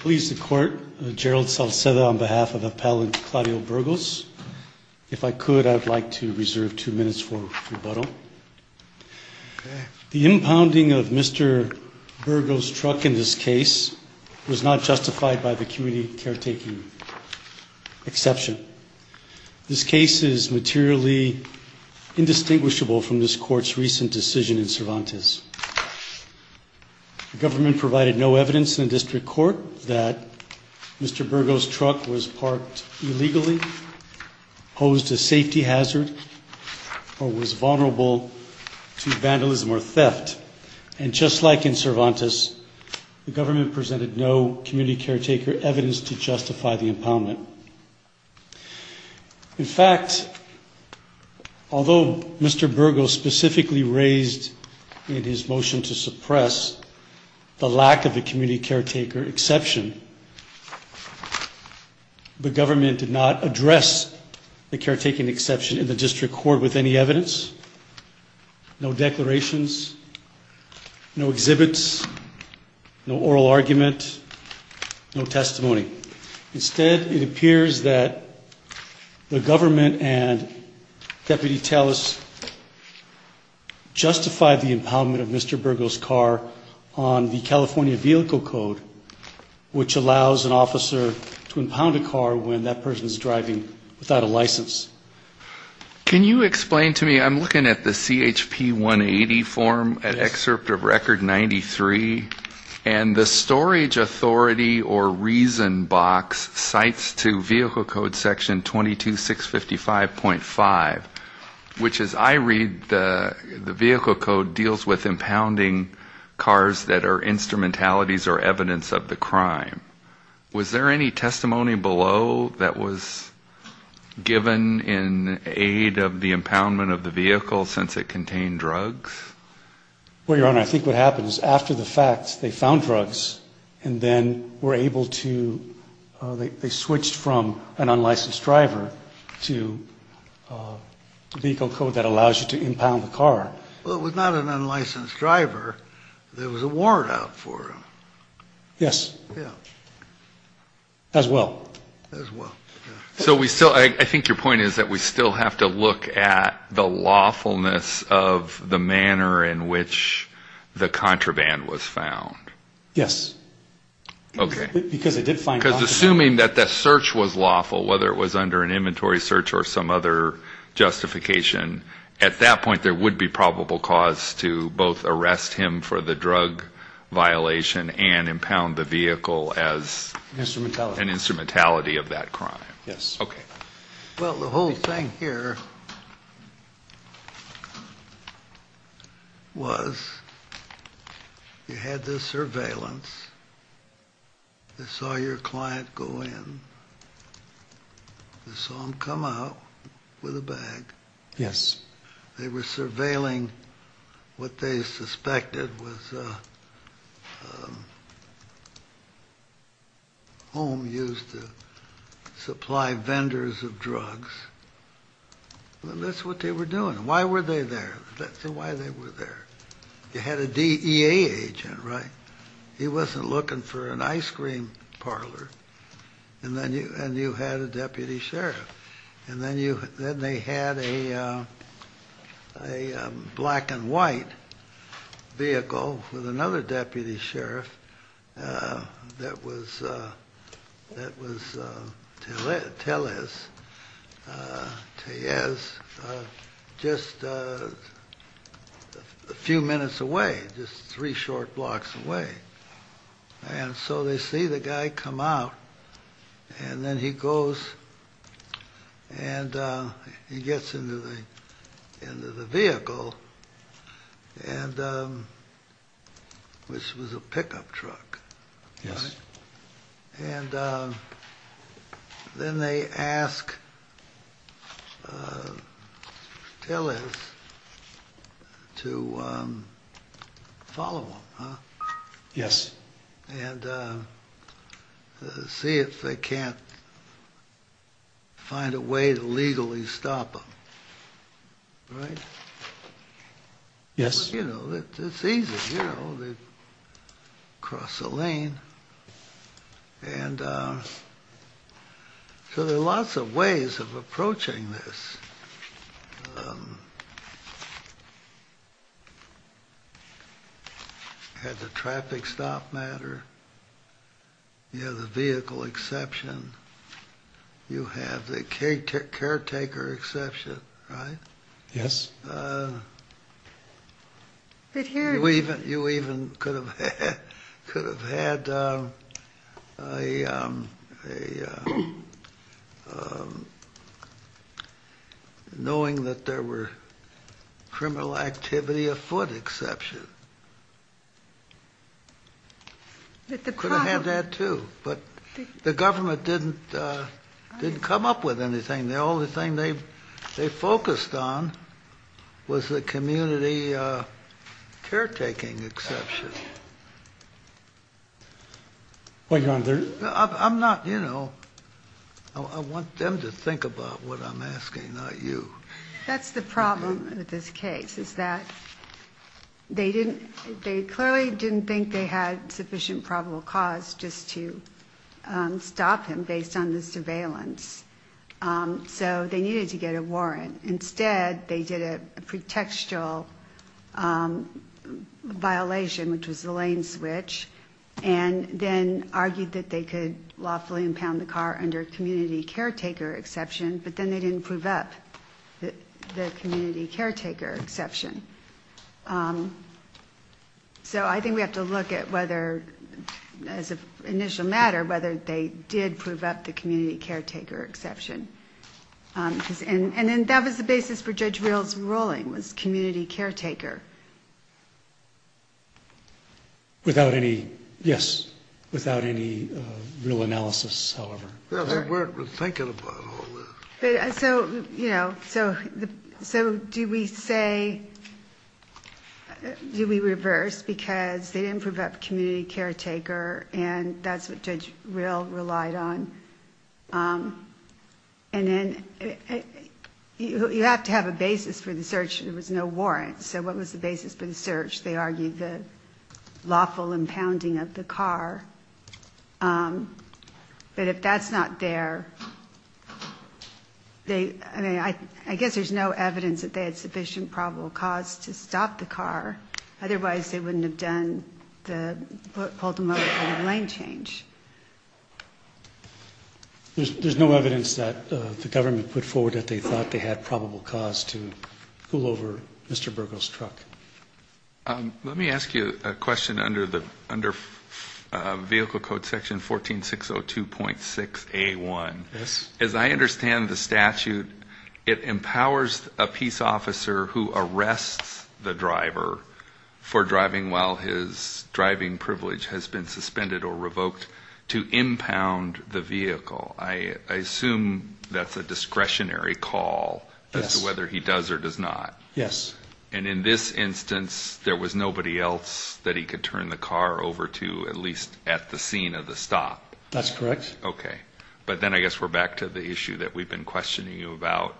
Please the court, Gerald Salcedo on behalf of Appellant Claudio Burgos. If I could, I'd like to reserve two minutes for rebuttal. The impounding of Mr. Burgos' truck in this case was not justified by the community caretaking exception. This case is materially indistinguishable from this court's recent decision in Cervantes. The government provided no evidence in the district court that Mr. Burgos' truck was parked illegally, posed a safety hazard, or was vulnerable to vandalism or theft. And just like in Cervantes, the government presented no community caretaker evidence to justify the impoundment. In fact, although Mr. Burgos specifically raised in his motion to suppress the lack of a community caretaker exception, the government did not address the caretaking exception in the district court with any evidence, no declarations, no exhibits, no oral argument, no testimony. Instead, it appears that the government and Deputy Tallis justified the impoundment of Mr. Burgos' car on the California Vehicle Code, which allows an officer to impound a car when that person is driving without a license. Can you explain to me, I'm looking at the CHP 180 form, an excerpt of Record 93, and the storage authority or reason box cites to Vehicle Code section 22655.5, which as I read, the Vehicle Code deals with impounding cars that are instrumentalities or evidence of the crime. Was there any testimony below that was given in aid of the impoundment of the vehicle since it contained drugs? Well, Your Honor, I think what happened is after the fact, they found drugs and then were able to, they switched from an unlicensed driver to Vehicle Code that allows you to impound the car. Well, it was not an unlicensed driver. There was a warrant out for him. Yes. Yeah. As well. As well, yeah. So we still, I think your point is that we still have to look at the lawfulness of the manner in which the contraband was found. Yes. Okay. Because it did find... Because assuming that the search was lawful, whether it was under an inventory search or some other justification, at that point there would be probable cause to both arrest him for the drug violation and impound the vehicle as... Instrumentality. Instrumentality of that crime. Yes. Okay. Well, the whole thing here was you had this surveillance, they saw your client go in, they saw him come out with a bag. Yes. They were surveilling what they suspected was a home used to supply vendors of drugs. And that's what they were doing. Why were they there? That's why they were there. You had a DEA agent, right? He wasn't looking for an ice cream parlor. And you had a deputy sheriff. And then they had a black and white vehicle with another deputy sheriff that was Tellez, just a few minutes away, just three short blocks away. And so they see the guy come out and then he goes and he gets into the vehicle, which was a pickup truck. Yes. And then they ask Tellez to follow him. Yes. And see if they can't find a way to legally stop him. Right? Yes. You know, it's easy. You know, they cross the lane. And so there are lots of ways of approaching this. You have the traffic stop matter. You have the vehicle exception. You have the caretaker exception, right? Yes. You even could have had a knowing that there were criminal activity afoot exception. You could have had that too. But the government didn't come up with anything. The only thing they focused on was the community caretaking exception. I'm not, you know, I want them to think about what I'm asking, not you. That's the problem with this case, is that they clearly didn't think they had sufficient probable cause just to stop him based on the surveillance. So they needed to get a warrant. Instead, they did a pretextual violation, which was the lane switch, and then argued that they could lawfully impound the car under community caretaker exception. But then they didn't prove up the community caretaker exception. So I think we have to look at whether, as an initial matter, whether they did prove up the community caretaker exception. And then that was the basis for Judge Rill's ruling, was community caretaker. Without any, yes, without any real analysis, however. They weren't thinking about all that. So, you know, so do we say, do we reverse? Because they didn't prove up community caretaker, and that's what Judge Rill relied on. And then you have to have a basis for the search. There was no warrant. So what was the basis for the search? They argued the lawful impounding of the car. But if that's not there, they, I mean, I guess there's no evidence that they had sufficient probable cause to stop the car. Otherwise, they wouldn't have done the, pulled the motor out of the lane change. There's no evidence that the government put forward that they thought they had probable cause to pull over Mr. Burgos' truck. Let me ask you a question under vehicle code section 14602.6A1. Yes. As I understand the statute, it empowers a peace officer who arrests the driver for driving while his driving privilege has been suspended or revoked to impound the vehicle. I assume that's a discretionary call as to whether he does or does not. Yes. And in this instance, there was nobody else that he could turn the car over to, at least at the scene of the stop. That's correct. Okay. But then I guess we're back to the issue that we've been questioning you about.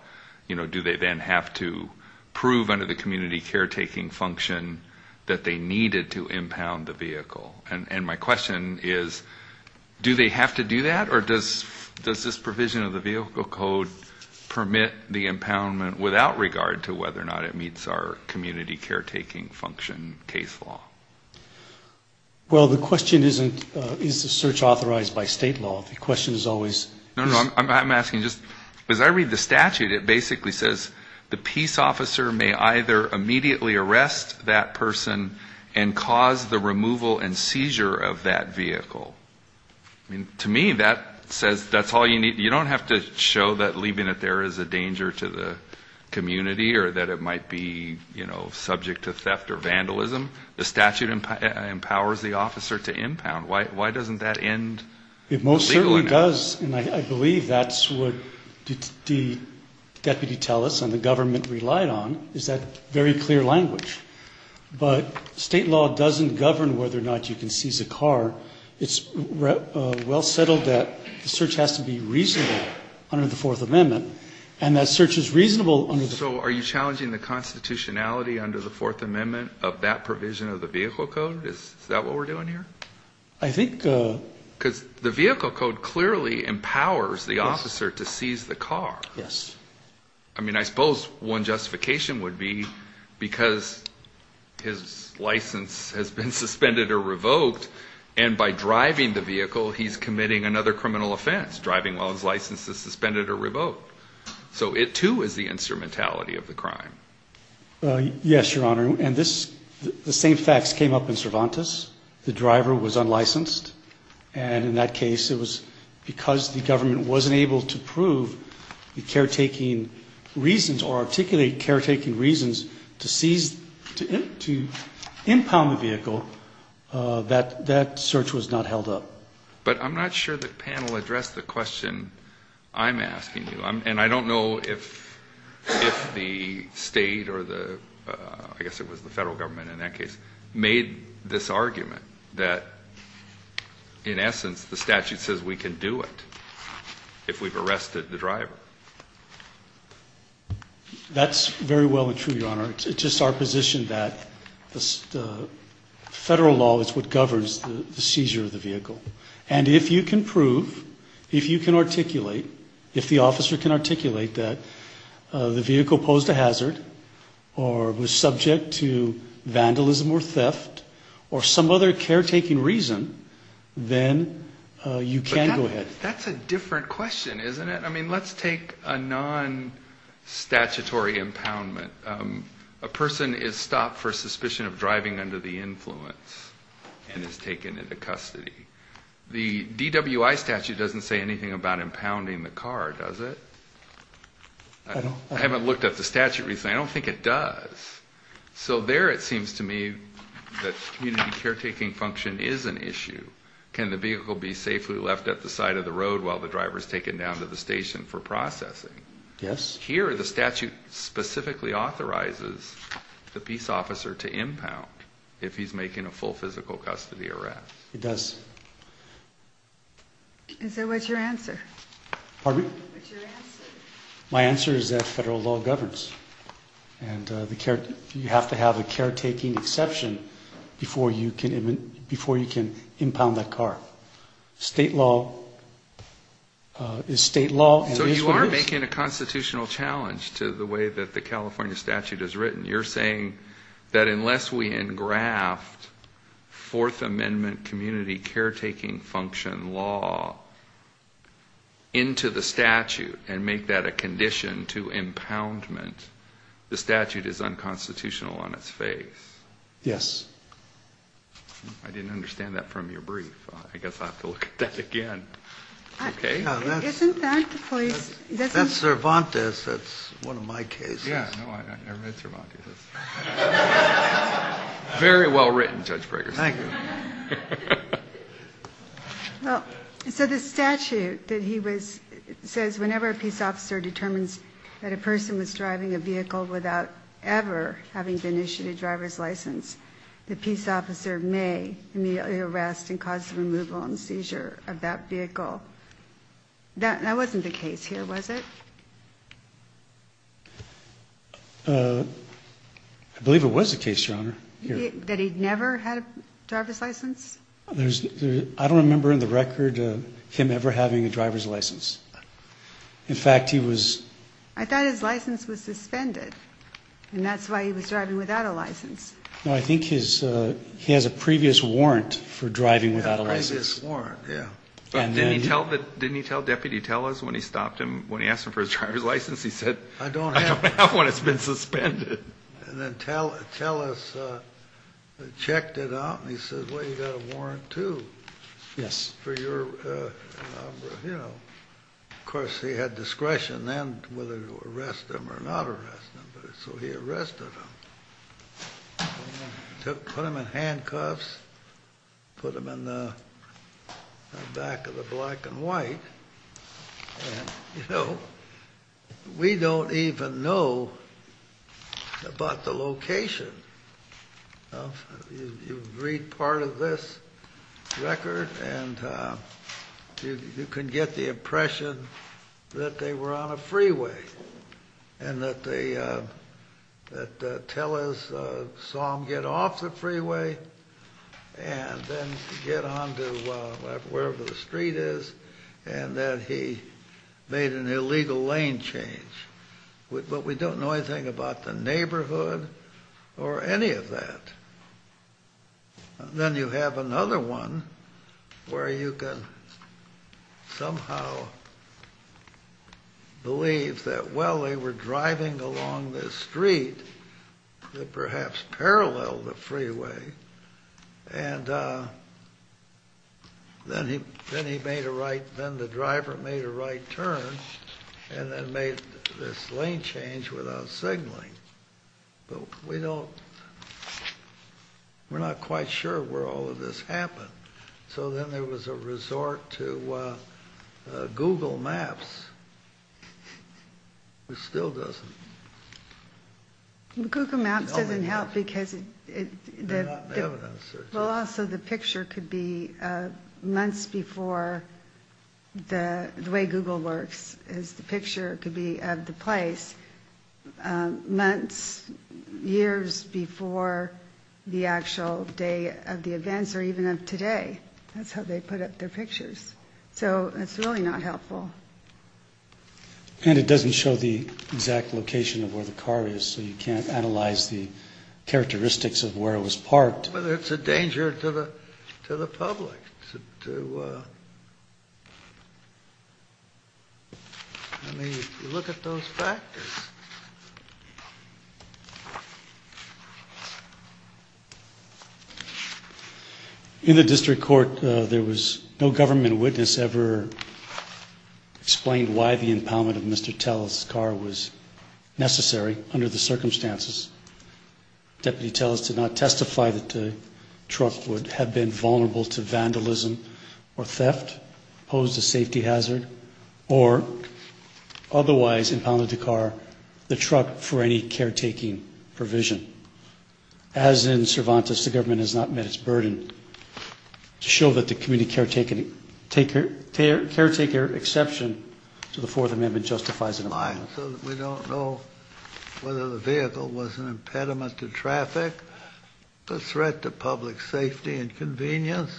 You know, do they then have to prove under the community caretaking function that they needed to impound the vehicle? And my question is, do they have to do that? Or does this provision of the vehicle code permit the impoundment without regard to whether or not it meets our community caretaking function case law? Well, the question isn't, is the search authorized by state law? The question is always. No, no. As I read the statute, it basically says the peace officer may either immediately arrest that person and cause the removal and seizure of that vehicle. I mean, to me, that says that's all you need. You don't have to show that leaving it there is a danger to the community or that it might be, you know, subject to theft or vandalism. The statute empowers the officer to impound. Why doesn't that end legally? It does, and I believe that's what the deputy tell us and the government relied on, is that very clear language. But state law doesn't govern whether or not you can seize a car. It's well settled that the search has to be reasonable under the Fourth Amendment, and that search is reasonable under the Fourth Amendment. So are you challenging the constitutionality under the Fourth Amendment of that provision of the vehicle code? Is that what we're doing here? I think. Because the vehicle code clearly empowers the officer to seize the car. Yes. I mean, I suppose one justification would be because his license has been suspended or revoked, and by driving the vehicle he's committing another criminal offense, driving while his license is suspended or revoked. So it, too, is the instrumentality of the crime. Yes, Your Honor. And the same facts came up in Cervantes. The driver was unlicensed, and in that case it was because the government wasn't able to prove the caretaking reasons or articulate caretaking reasons to seize, to impound the vehicle, that that search was not held up. But I'm not sure the panel addressed the question I'm asking you, and I don't know if the state or the, I guess it was the federal government in that case, made this argument that, in essence, the statute says we can do it if we've arrested the driver. That's very well and true, Your Honor. It's just our position that the federal law is what governs the seizure of the vehicle. And if you can prove, if you can articulate, if the officer can articulate that the vehicle posed a hazard or was subject to vandalism or theft or some other caretaking reason, then you can go ahead. But that's a different question, isn't it? I mean, let's take a non-statutory impoundment. A person is stopped for suspicion of driving under the influence and is taken into custody. The DWI statute doesn't say anything about impounding the car, does it? I haven't looked at the statute recently. I don't think it does. So there it seems to me that community caretaking function is an issue. Can the vehicle be safely left at the side of the road while the driver is taken down to the station for processing? Yes. Here, the statute specifically authorizes the peace officer to impound if he's making a full physical custody arrest. It does. And so what's your answer? Pardon me? What's your answer? My answer is that federal law governs. And you have to have a caretaking exception before you can impound that car. State law is state law. So you are making a constitutional challenge to the way that the California statute is written. You're saying that unless we engraft Fourth Amendment community caretaking function law into the statute and make that a condition to impoundment, the statute is unconstitutional on its face. Yes. I didn't understand that from your brief. I guess I'll have to look at that again. Okay. Isn't that the police? That's Cervantes. That's one of my cases. Yeah. No, I've never met Cervantes. Very well written, Judge Ferguson. Thank you. So the statute that he was says whenever a peace officer determines that a person was driving a vehicle without ever having been issued a driver's license, the peace officer may immediately arrest and cause the removal and seizure of that vehicle. That wasn't the case here, was it? I believe it was the case, Your Honor. That he never had a driver's license? I don't remember in the record him ever having a driver's license. In fact, he was ‑‑ I thought his license was suspended, and that's why he was driving without a license. No, I think he has a previous warrant for driving without a license. A previous warrant, yeah. Didn't he tell Deputy Tellis when he stopped him, when he asked him for his driver's license? He said, I don't have one. It's been suspended. And then Tellis checked it out, and he said, well, you've got a warrant, too. Yes. For your, you know. Of course, he had discretion then whether to arrest him or not arrest him. So he arrested him. Put him in handcuffs. Put him in the back of the black and white. And, you know, we don't even know about the location. You read part of this record, and you can get the impression that they were on a freeway and that Tellis saw him get off the freeway and then get on to wherever the street is, and that he made an illegal lane change. But we don't know anything about the neighborhood or any of that. Then you have another one where you can somehow believe that, well, they were driving along this street that perhaps paralleled the freeway, and then he made a right, then the driver made a right turn and then made this lane change without signaling. But we don't, we're not quite sure where all of this happened. So then there was a resort to Google Maps, which still doesn't. Google Maps doesn't help because it, well, also the picture could be months before the way Google works, as the picture could be of the place, months, years before the actual day of the events or even of today. That's how they put up their pictures. So it's really not helpful. And it doesn't show the exact location of where the car is, so you can't analyze the characteristics of where it was parked. But it's a danger to the public to, I mean, if you look at those factors. In the district court, there was no government witness ever explained why the impoundment of Mr. Telles' car was necessary under the circumstances. Deputy Telles did not testify that the truck would have been vulnerable to vandalism or theft, posed a safety hazard, or otherwise impounded the car, the truck, for any caretaking provision. As in Cervantes, the government has not met its burden. To show that the community caretaker exception to the Fourth Amendment justifies an impoundment. So we don't know whether the vehicle was an impediment to traffic, a threat to public safety and convenience,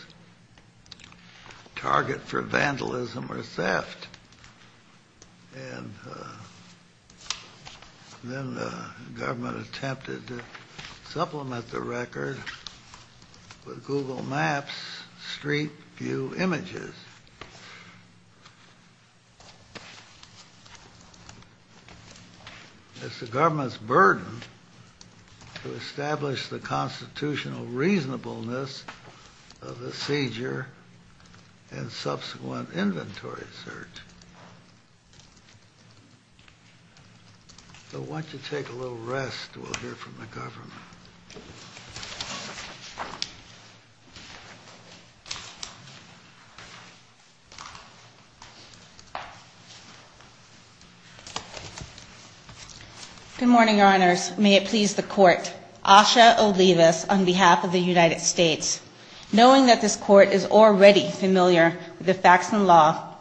target for vandalism or theft. And then the government attempted to supplement the record with Google Maps street view images. It's the government's burden to establish the constitutional reasonableness of the seizure and subsequent inventory search. So why don't you take a little rest, we'll hear from the government. Good morning, Your Honors. May it please the court. Asha Olivas on behalf of the United States. Knowing that this court is already familiar with the facts and law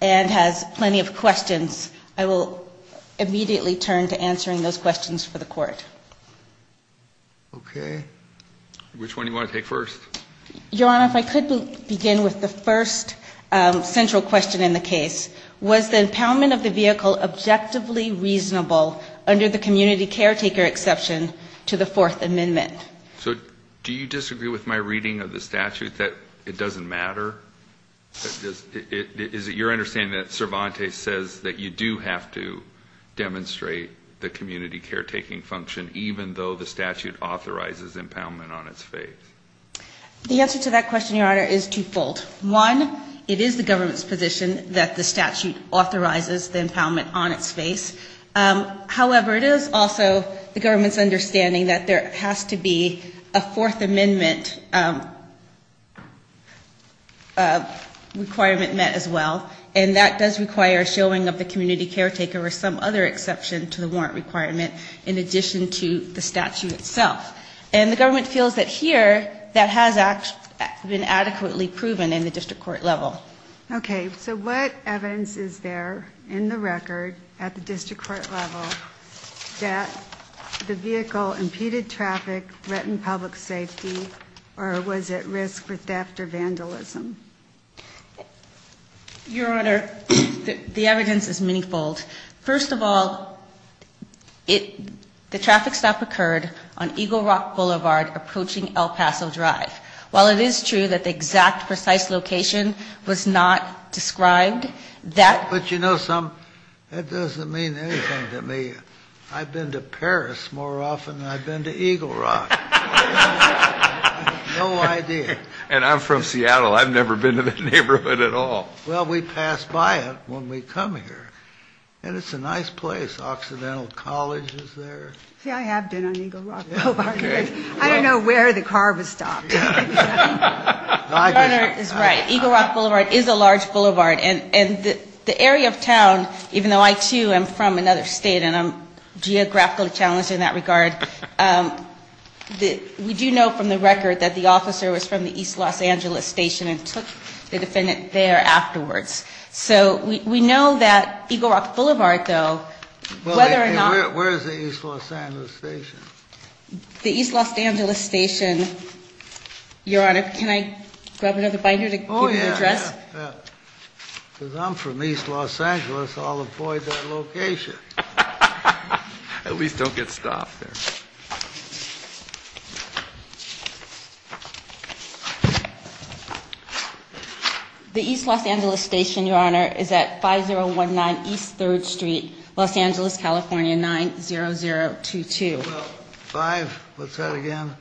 and has plenty of questions, I will immediately turn to answering those questions for the court. Okay. Which one do you want to take first? Your Honor, if I could begin with the first central question in the case. Was the impoundment of the vehicle objectively reasonable under the community caretaker exception to the Fourth Amendment? So do you disagree with my reading of the statute that it doesn't matter? Is it your understanding that Cervantes says that you do have to demonstrate the community caretaking function even though the statute authorizes impoundment on its face? The answer to that question, Your Honor, is twofold. One, it is the government's position that the statute authorizes the impoundment on its face. However, it is also the government's understanding that there has to be a Fourth Amendment requirement met as well, and that does require a showing of the community caretaker or some other exception to the warrant requirement in addition to the statute itself. And the government feels that here that has been adequately proven in the district court level. Okay. So what evidence is there in the record at the district court level that the vehicle impeded traffic, threatened public safety, or was at risk for theft or vandalism? Your Honor, the evidence is manyfold. First of all, the traffic stop occurred on Eagle Rock Boulevard approaching El Paso Drive. While it is true that the exact precise location was not described, that ---- But you know something? That doesn't mean anything to me. I've been to Paris more often than I've been to Eagle Rock. I have no idea. And I'm from Seattle. I've never been to the neighborhood at all. Well, we pass by it when we come here. And it's a nice place. Occidental College is there. See, I have been on Eagle Rock Boulevard. I don't know where the car was stopped. Your Honor is right. Eagle Rock Boulevard is a large boulevard. And the area of town, even though I, too, am from another state and I'm geographically challenged in that regard, we do know from the record that the officer was from the East Los Angeles Station and took the defendant there afterwards. So we know that Eagle Rock Boulevard, though, whether or not ---- Where is the East Los Angeles Station? The East Los Angeles Station, Your Honor. Can I grab another binder to give you the address? Oh, yeah. Because I'm from East Los Angeles. I'll avoid that location. At least don't get stopped there. The East Los Angeles Station, Your Honor, is at 5019 East 3rd Street, Los Angeles, California, 90022. Well, five, what's that again?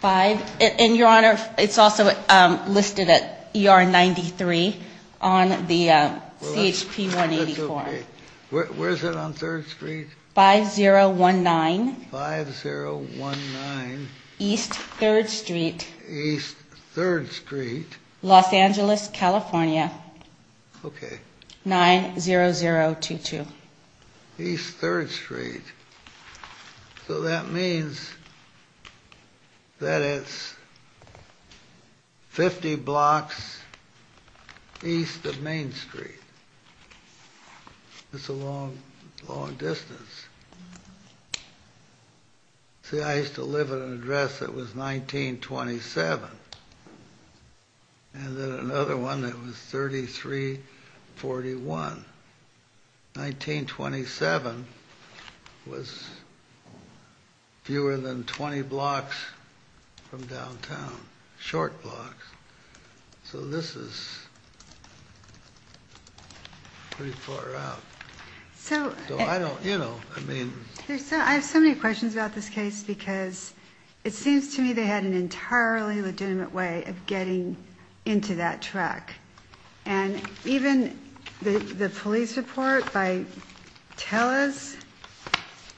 Five. And, Your Honor, it's also listed at ER 93 on the CHP 184. That's okay. Where is it on 3rd Street? 5019. 5019. East 3rd Street. East 3rd Street. Los Angeles, California. Okay. 90022. East 3rd Street. So that means that it's 50 blocks east of Main Street. It's a long, long distance. See, I used to live at an address that was 1927. And then another one that was 3341. 1927 was fewer than 20 blocks from downtown. Short blocks. So this is pretty far out. So I don't, you know, I mean. I have so many questions about this case because it seems to me they had an entirely legitimate way of getting into that track. And even the police report by Tellez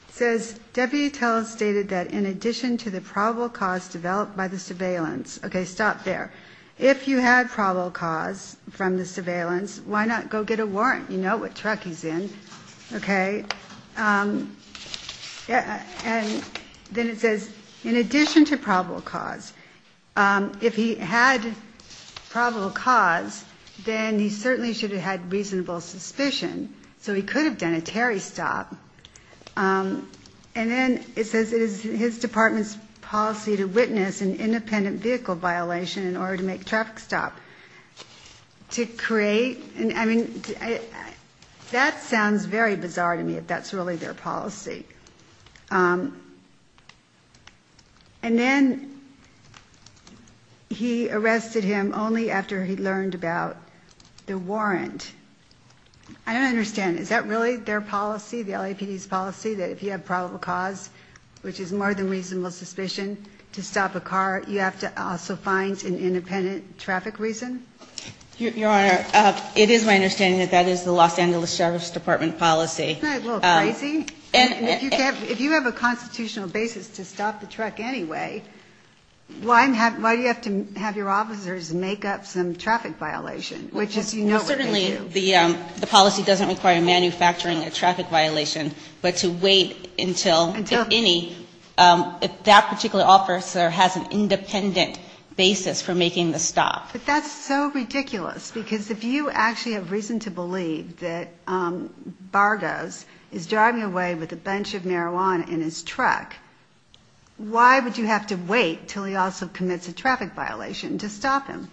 says, Deputy Tellez stated that in addition to the probable cause developed by the surveillance. Okay, stop there. If you had probable cause from the surveillance, why not go get a warrant? You know what truck he's in. Okay. And then it says, in addition to probable cause, if he had probable cause, then he certainly should have had reasonable suspicion. So he could have done a Terry stop. And then it says it is his department's policy to witness an independent vehicle violation in order to make traffic stop. To create. I mean, that sounds very bizarre to me if that's really their policy. And then he arrested him only after he learned about the warrant. I don't understand. Is that really their policy? The LAPD's policy that if you have probable cause, which is more than reasonable suspicion to stop a car, you have to also find an independent traffic reason. Your Honor, it is my understanding that that is the Los Angeles Sheriff's Department policy. Isn't that a little crazy? If you have a constitutional basis to stop the truck anyway, why do you have to have your officers make up some traffic violation? Certainly the policy doesn't require manufacturing a traffic violation, but to wait until, if any, if that particular officer has an independent basis for making the stop. But that's so ridiculous. Because if you actually have reason to believe that Vargas is driving away with a bunch of marijuana in his truck, why would you have to wait until he also commits a traffic violation to stop him?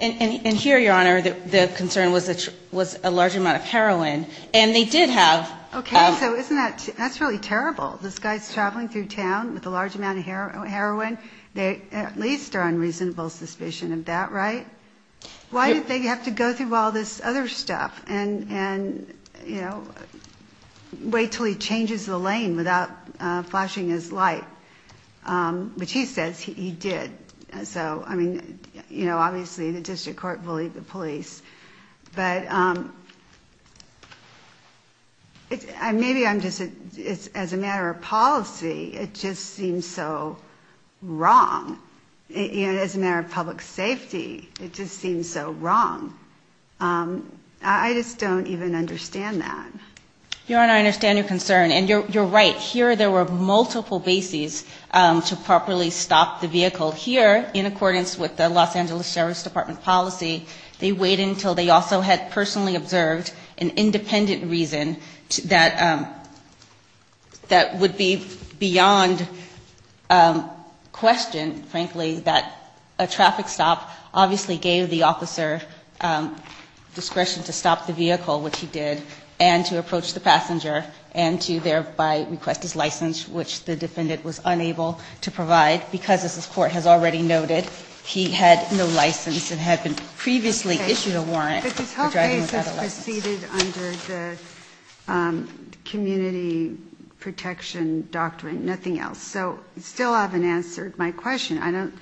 And here, Your Honor, the concern was a large amount of heroin. And they did have. Okay. So isn't that, that's really terrible. This guy's traveling through town with a large amount of heroin. They at least are on reasonable suspicion of that, right? Why did they have to go through all this other stuff and, you know, wait until he changes the lane without flashing his light? Which he says he did. So, I mean, you know, obviously the district court bullied the police. But maybe I'm just, as a matter of policy, it just seems so wrong. You know, as a matter of public safety, it just seems so wrong. I just don't even understand that. Your Honor, I understand your concern. And you're right. Here there were multiple bases to properly stop the vehicle. Here, in accordance with the Los Angeles Sheriff's Department policy, they wait until they also had personally observed an independent reason that would be beyond question, frankly, that a traffic stop obviously gave the officer discretion to stop the vehicle, which he did, and to approach the passenger and to thereby request his license, which the defendant was unable to provide because, as this Court has already noted, he had no license and had previously issued a warrant for driving without a license. But this whole case has proceeded under the community protection doctrine, nothing else. So you still haven't answered my question.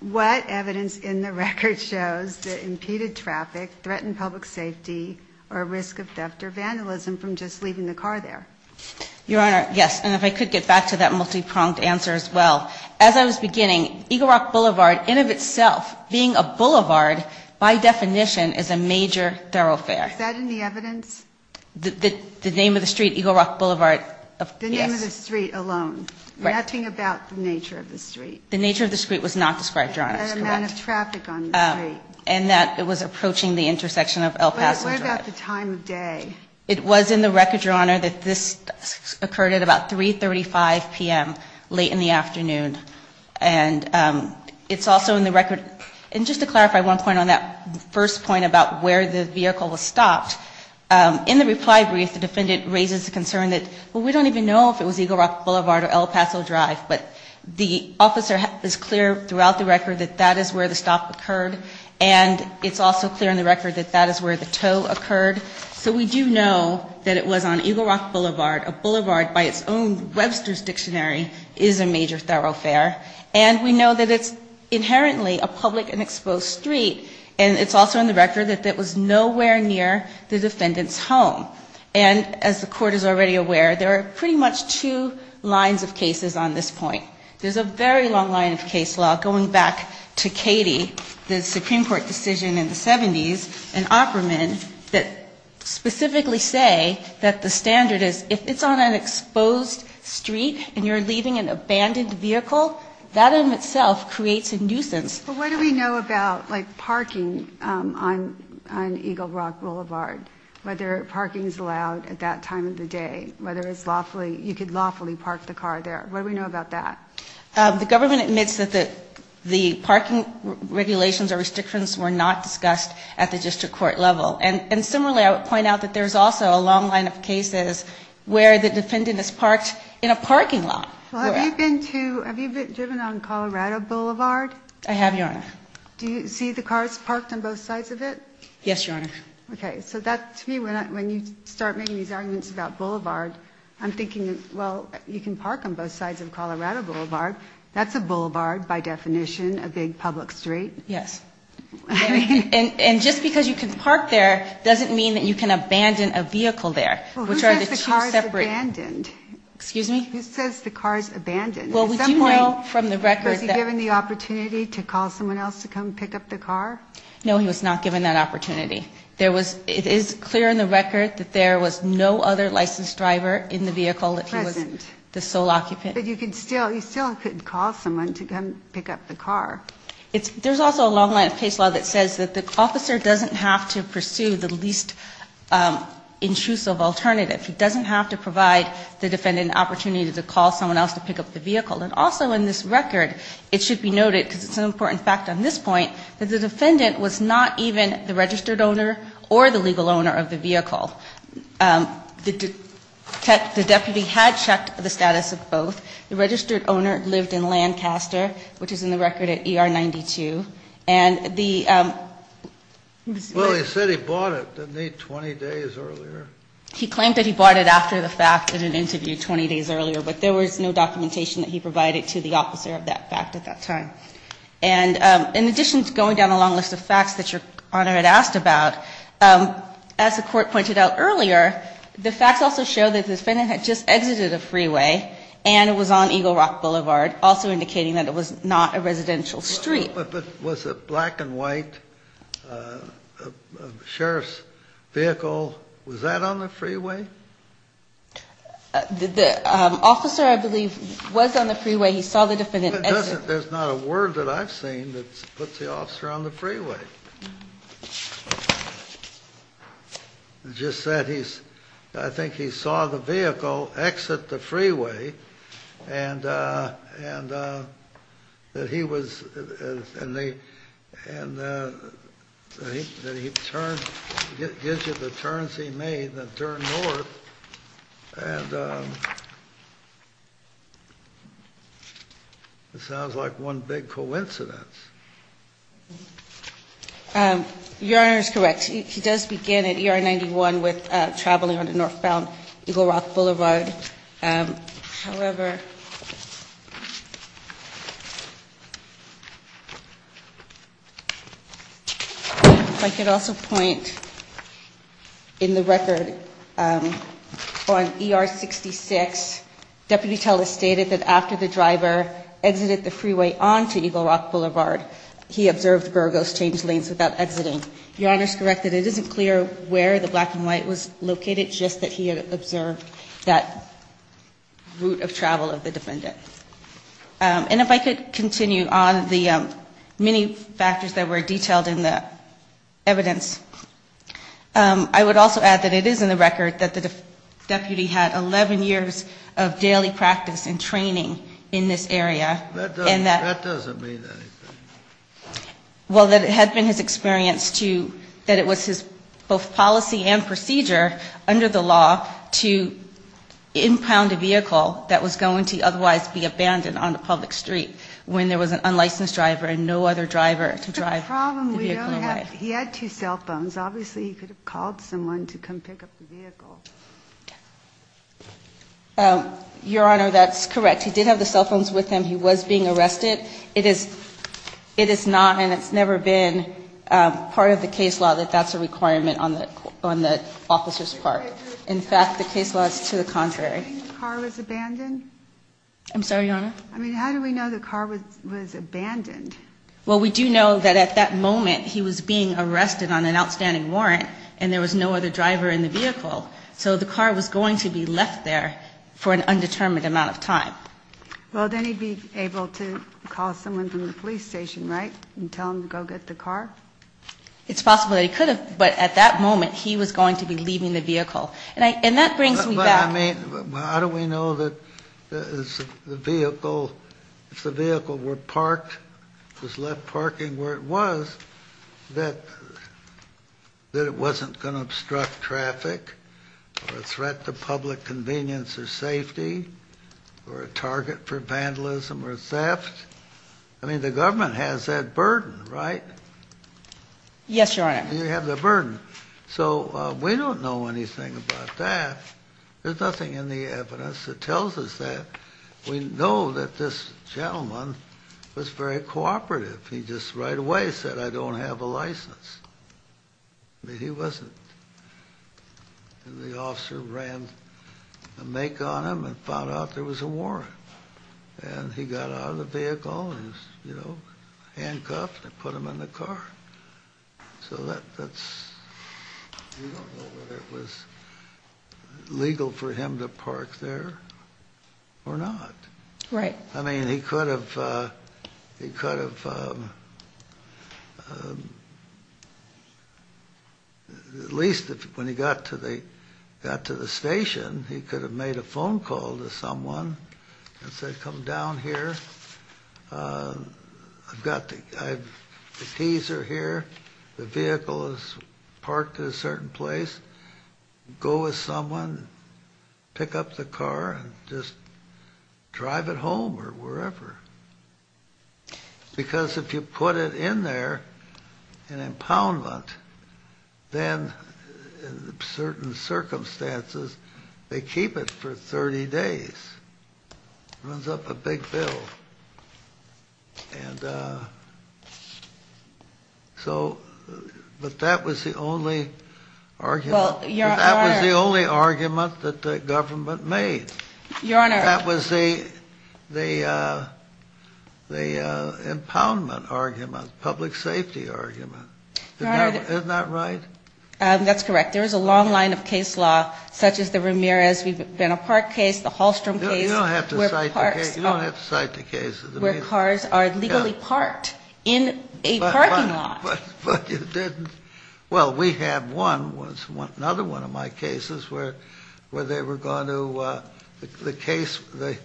What evidence in the record shows that impeded traffic, threatened public safety, or risk of theft or vandalism from just leaving the car there? Your Honor, yes. And if I could get back to that multi-pronged answer as well. As I was beginning, Eagle Rock Boulevard, in of itself, being a boulevard, by definition, is a major thoroughfare. Is that in the evidence? The name of the street, Eagle Rock Boulevard, yes. The name of the street alone. Right. Nothing about the nature of the street. The nature of the street was not described, Your Honor. That amount of traffic on the street. And that it was approaching the intersection of El Paso Drive. But what about the time of day? It was in the record, Your Honor, that this occurred at about 335 p.m., late in the afternoon. And it's also in the record, and just to clarify one point on that first point about where the vehicle was stopped, in the reply brief, the defendant raises the concern that, well, we don't even know if it was Eagle Rock Boulevard or El Paso Drive. But the officer is clear throughout the record that that is where the stop occurred. And it's also clear in the record that that is where the tow occurred. So we do know that it was on Eagle Rock Boulevard. A boulevard by its own Webster's dictionary is a major thoroughfare. And we know that it's inherently a public and exposed street. And it's also in the record that that was nowhere near the defendant's home. And as the court is already aware, there are pretty much two lines of cases on this point. There's a very long line of case law, going back to Cady, the Supreme Court decision in the 70s, and Opperman, that specifically say that the standard is if it's on an exposed street and you're leaving an abandoned vehicle, that in itself creates a nuisance. But what do we know about, like, parking on Eagle Rock Boulevard, whether parking is allowed at that time of the day, whether it's lawfully, you could lawfully park the car there? What do we know about that? The government admits that the parking regulations or restrictions were not discussed at the district court level. And similarly, I would point out that there's also a long line of cases where the defendant is parked in a parking lot. Have you been driven on Colorado Boulevard? I have, Your Honor. Do you see the cars parked on both sides of it? Yes, Your Honor. Okay. So to me, when you start making these arguments about boulevard, I'm thinking, well, you can park on both sides of Colorado Boulevard. That's a boulevard, by definition, a big public street. Yes. And just because you can park there doesn't mean that you can abandon a vehicle there, which are the two separate. Well, who says the car is abandoned? Excuse me? Who says the car is abandoned? Well, we do know from the record that. Was he given the opportunity to call someone else to come pick up the car? No, he was not given that opportunity. It is clear in the record that there was no other licensed driver in the vehicle that he was the sole occupant. But you still couldn't call someone to come pick up the car. There's also a long line of case law that says that the officer doesn't have to pursue the least intrusive alternative. He doesn't have to provide the defendant an opportunity to call someone else to pick up the vehicle. And also in this record, it should be noted, because it's an important fact on this point, that the defendant was not even the registered owner or the legal owner of the vehicle. The deputy had checked the status of both. The registered owner lived in Lancaster, which is in the record at ER 92. And the. Well, he said he bought it, didn't he, 20 days earlier? He claimed that he bought it after the fact in an interview 20 days earlier. But there was no documentation that he provided to the officer of that fact at that time. And in addition to going down a long list of facts that Your Honor had asked about, as the court pointed out earlier, the facts also show that the defendant had just exited a freeway and was on Eagle Rock Boulevard, also indicating that it was not a residential street. But was it black and white, sheriff's vehicle? Was that on the freeway? The officer, I believe, was on the freeway. He saw the defendant exit. There's not a word that I've seen that puts the officer on the freeway. Just said he's. I think he saw the vehicle exit the freeway and that he was. And he turned, gives you the turns he made, the turn north. And it sounds like one big coincidence. Your Honor is correct. He does begin at ER 91 with traveling on the northbound Eagle Rock Boulevard. However, if I could also point in the record on ER 66, Deputy Teller stated that after the driver exited the freeway onto Eagle Rock Boulevard, he observed Burgos change lanes without exiting. Your Honor is correct that it isn't clear where the black and white was located, just that he had observed that route of travel of the defendant. And if I could continue on the many factors that were detailed in the evidence, I would also add that it is in the record that the deputy had 11 years of daily practice and training in this area. That doesn't mean anything. Well, that it had been his experience to, that it was his both policy and procedure under the law to impound a vehicle that was going to otherwise be abandoned on a public street when there was an unlicensed driver and no other driver to drive. He had two cell phones. Obviously he could have called someone to come pick up the vehicle. Your Honor, that's correct. He did have the cell phones with him. He was being arrested. It is not and it's never been part of the case law that that's a requirement on the officer's part. In fact, the case law is to the contrary. I'm sorry, Your Honor. I mean, how do we know the car was abandoned? Well, we do know that at that moment he was being arrested on an outstanding warrant and there was no other driver in the vehicle. So the car was going to be left there for an undetermined amount of time. Well, then he'd be able to call someone from the police station, right, and tell them to go get the car? It's possible that he could have, but at that moment he was going to be leaving the vehicle. And that brings me back. But I mean, how do we know that the vehicle, if the vehicle were parked, was left parking where it was, that it wasn't going to obstruct traffic? Or a threat to public convenience or safety? Or a target for vandalism or theft? I mean, the government has that burden, right? Yes, Your Honor. You have the burden. So we don't know anything about that. There's nothing in the evidence that tells us that. We know that this gentleman was very cooperative. He just right away said, I don't have a license. I mean, he wasn't. The officer ran a make on him and found out there was a warrant. And he got out of the vehicle and was, you know, handcuffed and put him in the car. So that's, we don't know whether it was legal for him to park there or not. Right. I mean, he could have, he could have, at least when he got to the station, he could have made a phone call to someone and said, pick up the car and just drive it home or wherever. Because if you put it in there in impoundment, then in certain circumstances they keep it for 30 days. Runs up a big bill. And so, but that was the only argument. Well, that was the only argument that the government made. Your Honor. That was the impoundment argument, public safety argument. Isn't that right? That's correct. There is a long line of case law, such as the Ramirez. We've been a park case, the Hallstrom case. You don't have to cite the case. Where cars are legally parked in a parking lot. But you didn't. Well, we had one, another one of my cases where they were going to, the case, the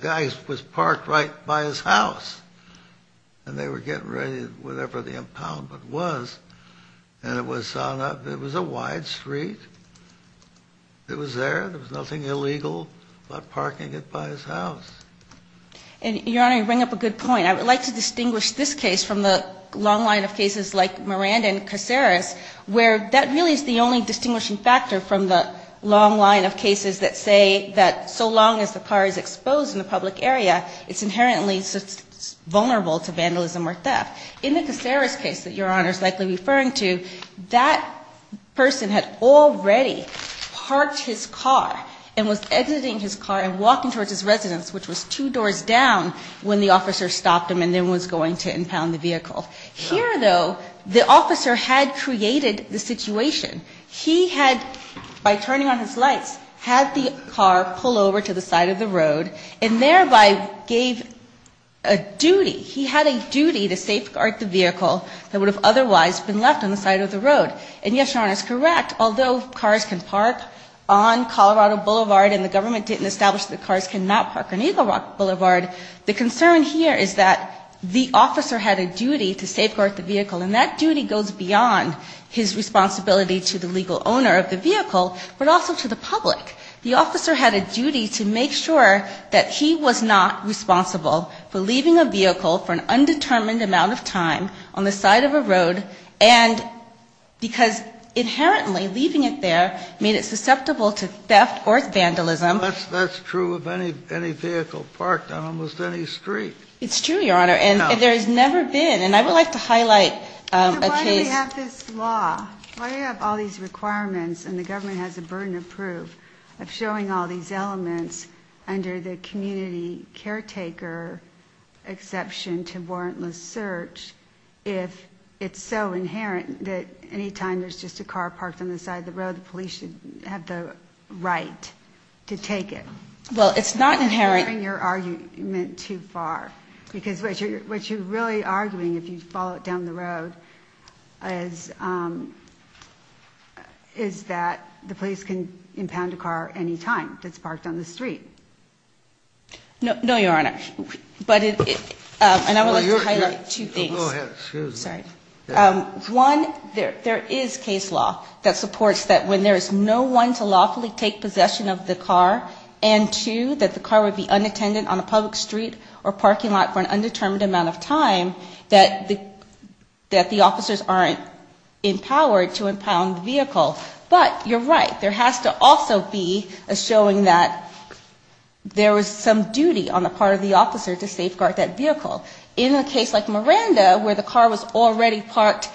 guy was parked right by his house. And they were getting ready, whatever the impoundment was. And it was on a, it was a wide street. It was there. There was nothing illegal about parking it by his house. Your Honor, you bring up a good point. I would like to distinguish this case from the long line of cases like Miranda and Caceres, where that really is the only distinguishing factor from the long line of cases that say that so long as the car is exposed in a public area, it's inherently vulnerable to vandalism or theft. In the Caceres case that Your Honor is likely referring to, that person had already parked his car and was exiting his car and walking towards his residence, which was two doors down when the officer stopped him and then was going to impound the vehicle. Here, though, the officer had created the situation. He had, by turning on his lights, had the car pull over to the side of the road and thereby gave a duty. He had a duty to safeguard the vehicle that would have otherwise been left on the side of the road. And yes, Your Honor, it's correct, although cars can park on Colorado Boulevard and the government didn't establish that cars cannot park on Eagle Rock Boulevard, the concern here is that the officer had a duty to safeguard the vehicle. And that duty goes beyond his responsibility to the legal owner of the vehicle, but also to the public. The officer had a duty to make sure that he was not responsible for leaving a vehicle for an undetermined amount of time on the side of a road because inherently leaving it there made it susceptible to theft or vandalism. That's true of any vehicle parked on almost any street. It's true, Your Honor, and there has never been. And I would like to highlight a case. So why do we have this law? Why do we have all these requirements, and the government has the burden of proof, of showing all these elements under the community caretaker exception to warrantless search if it's so inherent that any time there's just a car parked on the side of the road, the police should have the right to take it? Well, it's not inherent. I'm not hearing your argument too far. Because what you're really arguing, if you follow it down the road, is that the police can impound a car any time that's parked on the street. No, Your Honor. And I would like to highlight two things. Go ahead. One, there is case law that supports that when there is no one to lawfully take possession of the car, and two, that the car would be unattended on a public street or parking lot for an undetermined amount of time, that the officers aren't empowered to impound the vehicle. But you're right. There has to also be a showing that there was some duty on the part of the officer to safeguard that vehicle. In a case like Miranda, where the car was already parked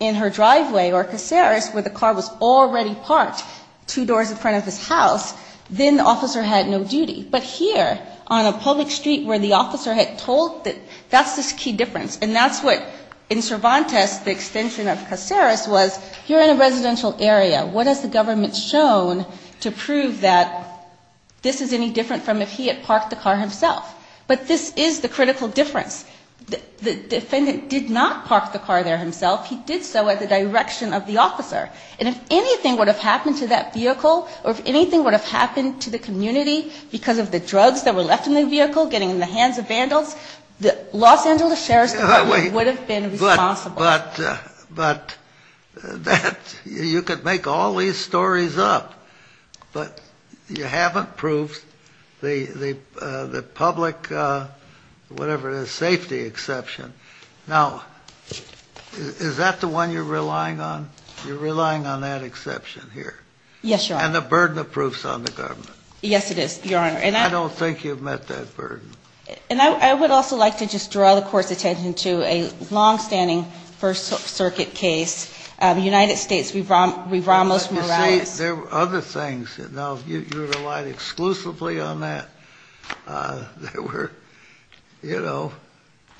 in her driveway, or Caceres, where the car was already parked two doors in front of his house, then the officer had no duty. But here, on a public street where the officer had told that, that's the key difference. And that's what, in Cervantes, the extension of Caceres was, you're in a residential area. What has the government shown to prove that this is any different from if he had parked the car himself? But this is the critical difference. The defendant did not park the car there himself. He did so at the direction of the officer. And if anything would have happened to that vehicle, or if anything would have happened to the community because of the drugs that were left in the vehicle getting in the hands of vandals, the Los Angeles Sheriff's Department would have been responsible. But you could make all these stories up. But you haven't proved the public, whatever it is, safety exception. Now, is that the one you're relying on? You're relying on that exception here. Yes, Your Honor. And the burden of proof is on the government. Yes, it is, Your Honor. And I don't think you've met that burden. And I would also like to just draw the Court's attention to a longstanding First Circuit case, the United States v. Ramos-Morales. You see, there were other things. Now, you relied exclusively on that. There were, you know,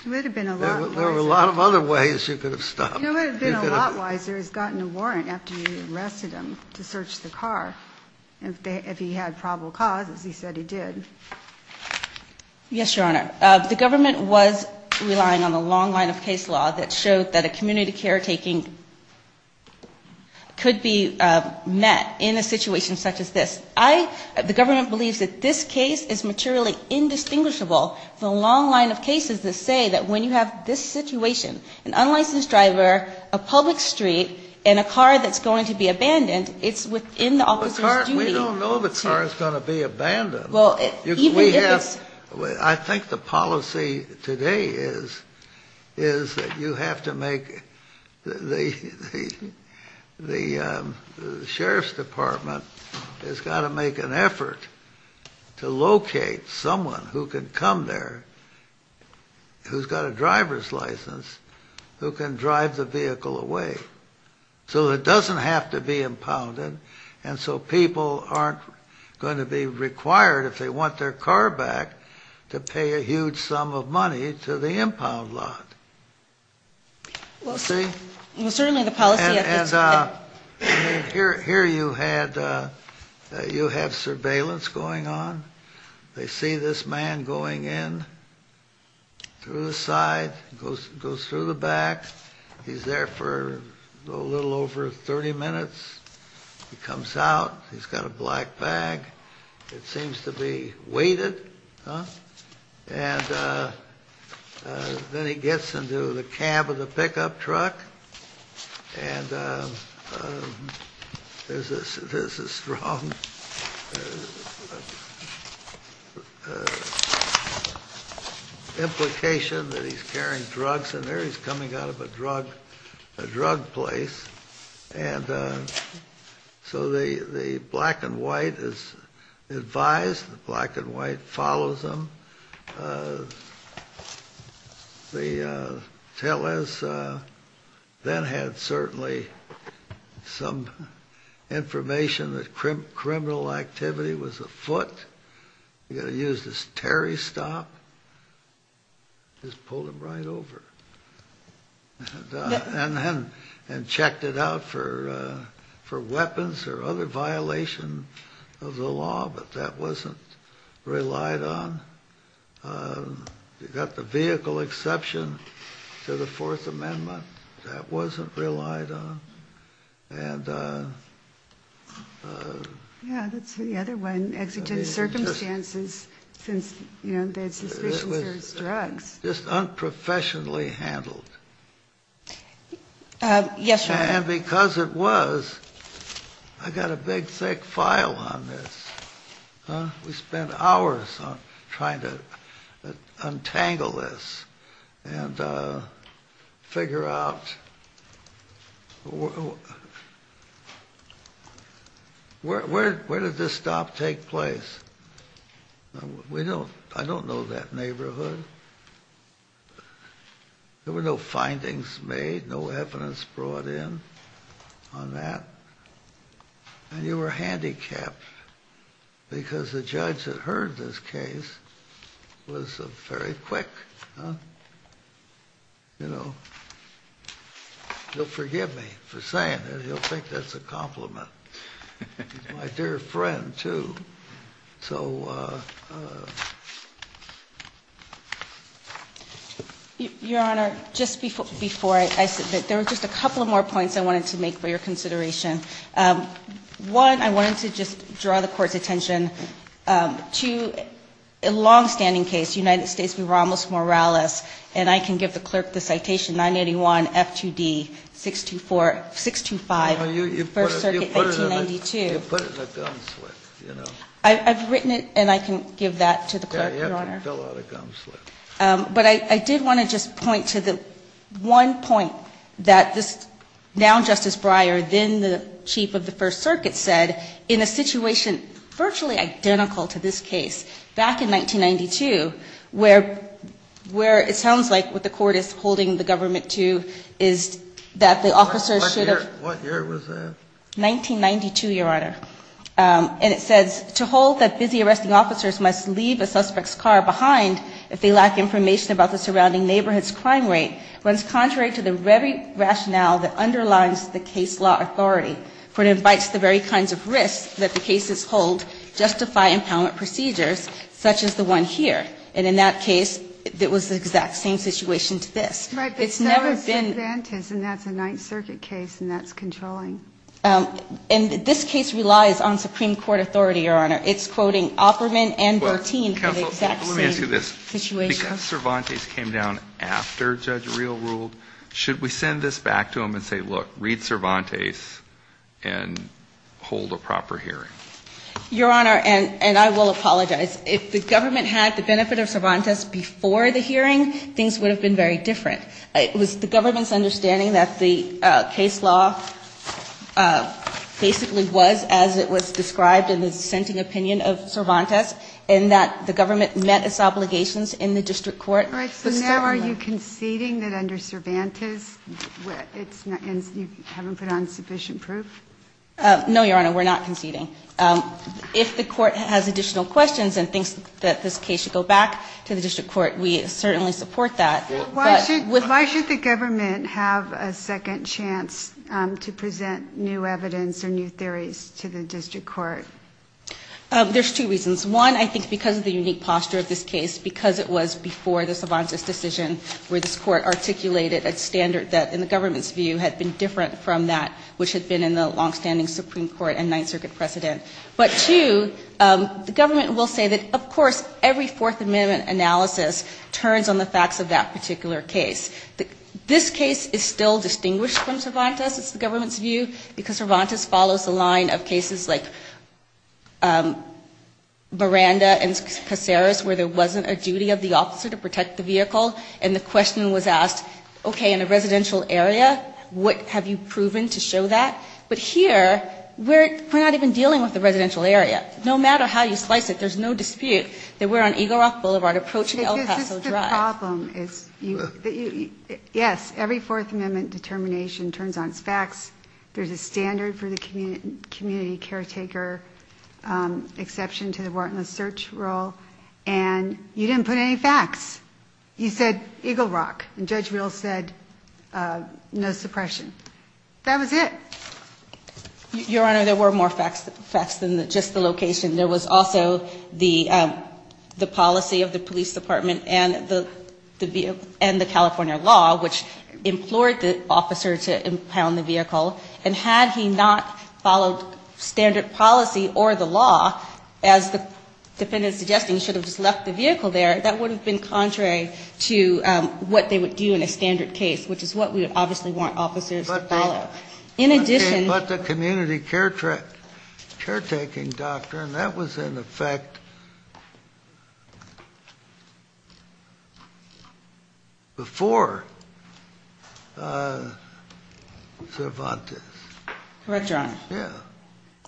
there were a lot of other ways you could have stopped. It would have been a lot wiser to have gotten a warrant after you arrested him to search the car if he had probable causes. He said he did. Yes, Your Honor. The government was relying on a long line of case law that showed that a community caretaking could be met in a situation such as this. The government believes that this case is materially indistinguishable from a long line of cases that say that when you have this situation, an unlicensed driver, a public street, and a car that's going to be abandoned, it's within the officer's duty. The car, we don't know the car is going to be abandoned. Well, even if it's... I think the policy today is that you have to make the sheriff's department has got to make an effort to locate someone who can come there who's got a driver's license who can drive the vehicle away so it doesn't have to be impounded and so people aren't going to be required, if they want their car back, to pay a huge sum of money to the impound lot. Well, certainly the policy... Here you have surveillance going on. They see this man going in through the side, goes through the back. He's there for a little over 30 minutes. He comes out. He's got a black bag. It seems to be weighted. And then he gets into the cab of the pickup truck. And there's a strong implication that he's carrying drugs in there. He's coming out of a drug place. And so the black and white is advised. The black and white follows him. The tellers then had certainly some information that criminal activity was afoot. You've got to use this Terry stop. Just pulled him right over. And checked it out for weapons or other violation of the law. But that wasn't relied on. You've got the vehicle exception to the Fourth Amendment. That wasn't relied on. Yeah, that's the other one. Exigent circumstances since they had suspicions there was drugs. Just unprofessionally handled. Yes, Your Honor. And because it was, I've got a big thick file on this. We spent hours on trying to untangle this and figure out where did this stop take place? We don't, I don't know that neighborhood. There were no findings made, no evidence brought in on that. And you were handicapped because the judge that heard this case was very quick. You know, he'll forgive me for saying it. He'll think that's a compliment. My dear friend, too. So. Your Honor, just before I submit, there were just a couple of more points I wanted to make for your consideration. One, I wanted to just draw the Court's attention to a longstanding case, United States v. Ramos-Morales. And I can give the clerk the citation, 981 F2D 625, First Circuit, 1992. You put it in a gum slip, you know. I've written it and I can give that to the clerk, Your Honor. Yeah, you have to fill out a gum slip. But I did want to just point to the one point that this, now Justice Breyer, then the Chief of the First Circuit said, in a situation virtually identical to this case, back in 1992, where it sounds like what the Court is holding the government to is that the officers should have. What year was that? 1992, Your Honor. And it says, to hold that busy arresting officers must leave a suspect's car behind if they lack information about the surrounding neighborhood's crime rate runs contrary to the very rationale that underlines the case law authority, for it invites the very kinds of risks that the cases hold justify empowerment procedures, such as the one here. And in that case, it was the exact same situation to this. Right. It's never been. And that's a Ninth Circuit case, and that's controlling. And this case relies on Supreme Court authority, Your Honor. It's quoting Opperman and Bertin for the exact same situation. Counsel, let me ask you this. Because Cervantes came down after Judge Reel ruled, should we send this back to him and say, look, read Cervantes and hold a proper hearing? Your Honor, and I will apologize, if the government had the benefit of Cervantes before the hearing, things would have been very different. It was the government's understanding that the case law basically was as it was described in the dissenting opinion of Cervantes, and that the government met its obligations in the district court. Right. So now are you conceding that under Cervantes, it's not, you haven't put on sufficient proof? No, Your Honor, we're not conceding. If the court has additional questions and thinks that this case should go back to the district court, we certainly support that. Why should the government have a second chance to present new evidence or new theories to the district court? There's two reasons. One, I think because of the unique posture of this case, because it was before the Cervantes decision where this court articulated a standard that, in the government's view, had been different from that which had been in the longstanding Supreme Court and Ninth Circuit precedent. But two, the government will say that, of course, every Fourth Amendment analysis turns on the facts of that particular case. This case is still distinguished from Cervantes, it's the government's view, because Cervantes follows the line of cases like Miranda and Caceres where there wasn't a duty of the officer to protect the vehicle, and the question was asked, okay, in a residential area, what have you proven to show that? But here, we're not even dealing with the residential area. No matter how you slice it, there's no dispute that we're on Eagle Rock Boulevard approaching El Paso Drive. The problem is, yes, every Fourth Amendment determination turns on its facts. There's a standard for the community caretaker exception to the warrantless search rule, and you didn't put any facts. You said Eagle Rock, and Judge Reel said no suppression. That was it. Your Honor, there were more facts than just the location. There was also the policy of the police department and the California law, which implored the officer to impound the vehicle, and had he not followed standard policy or the law, as the defendant is suggesting, he should have just left the vehicle there, that would have been contrary to what they would do in a standard case, which is what we would obviously want officers to follow. But the community caretaking doctrine, that was in effect before Cervantes. Correct, Your Honor. Yeah.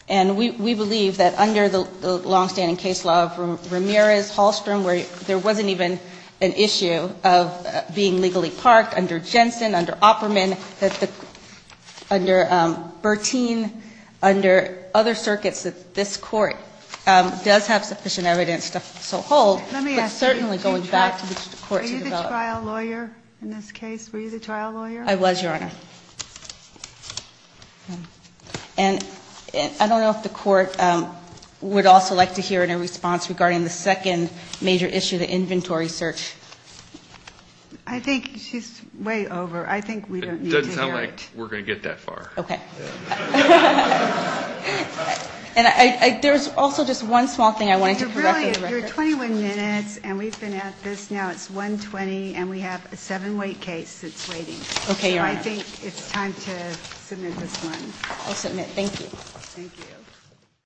And we believe that under the longstanding case law of Ramirez-Hallstrom, where there wasn't even an issue of being legally parked under Jensen, under Opperman, under Bertin, under other circuits that this Court does have sufficient evidence to hold. Let me ask you, were you the trial lawyer in this case? Were you the trial lawyer? I was, Your Honor. And I don't know if the Court would also like to hear any response regarding the second major issue, the inventory search. I think she's way over. I think we don't need to hear it. It doesn't sound like we're going to get that far. Okay. And there's also just one small thing I wanted to correct. You're 21 minutes, and we've been at this now. It's 1.20, and we have a seven-weight case that's waiting. Okay, Your Honor. So I think it's time to submit this one.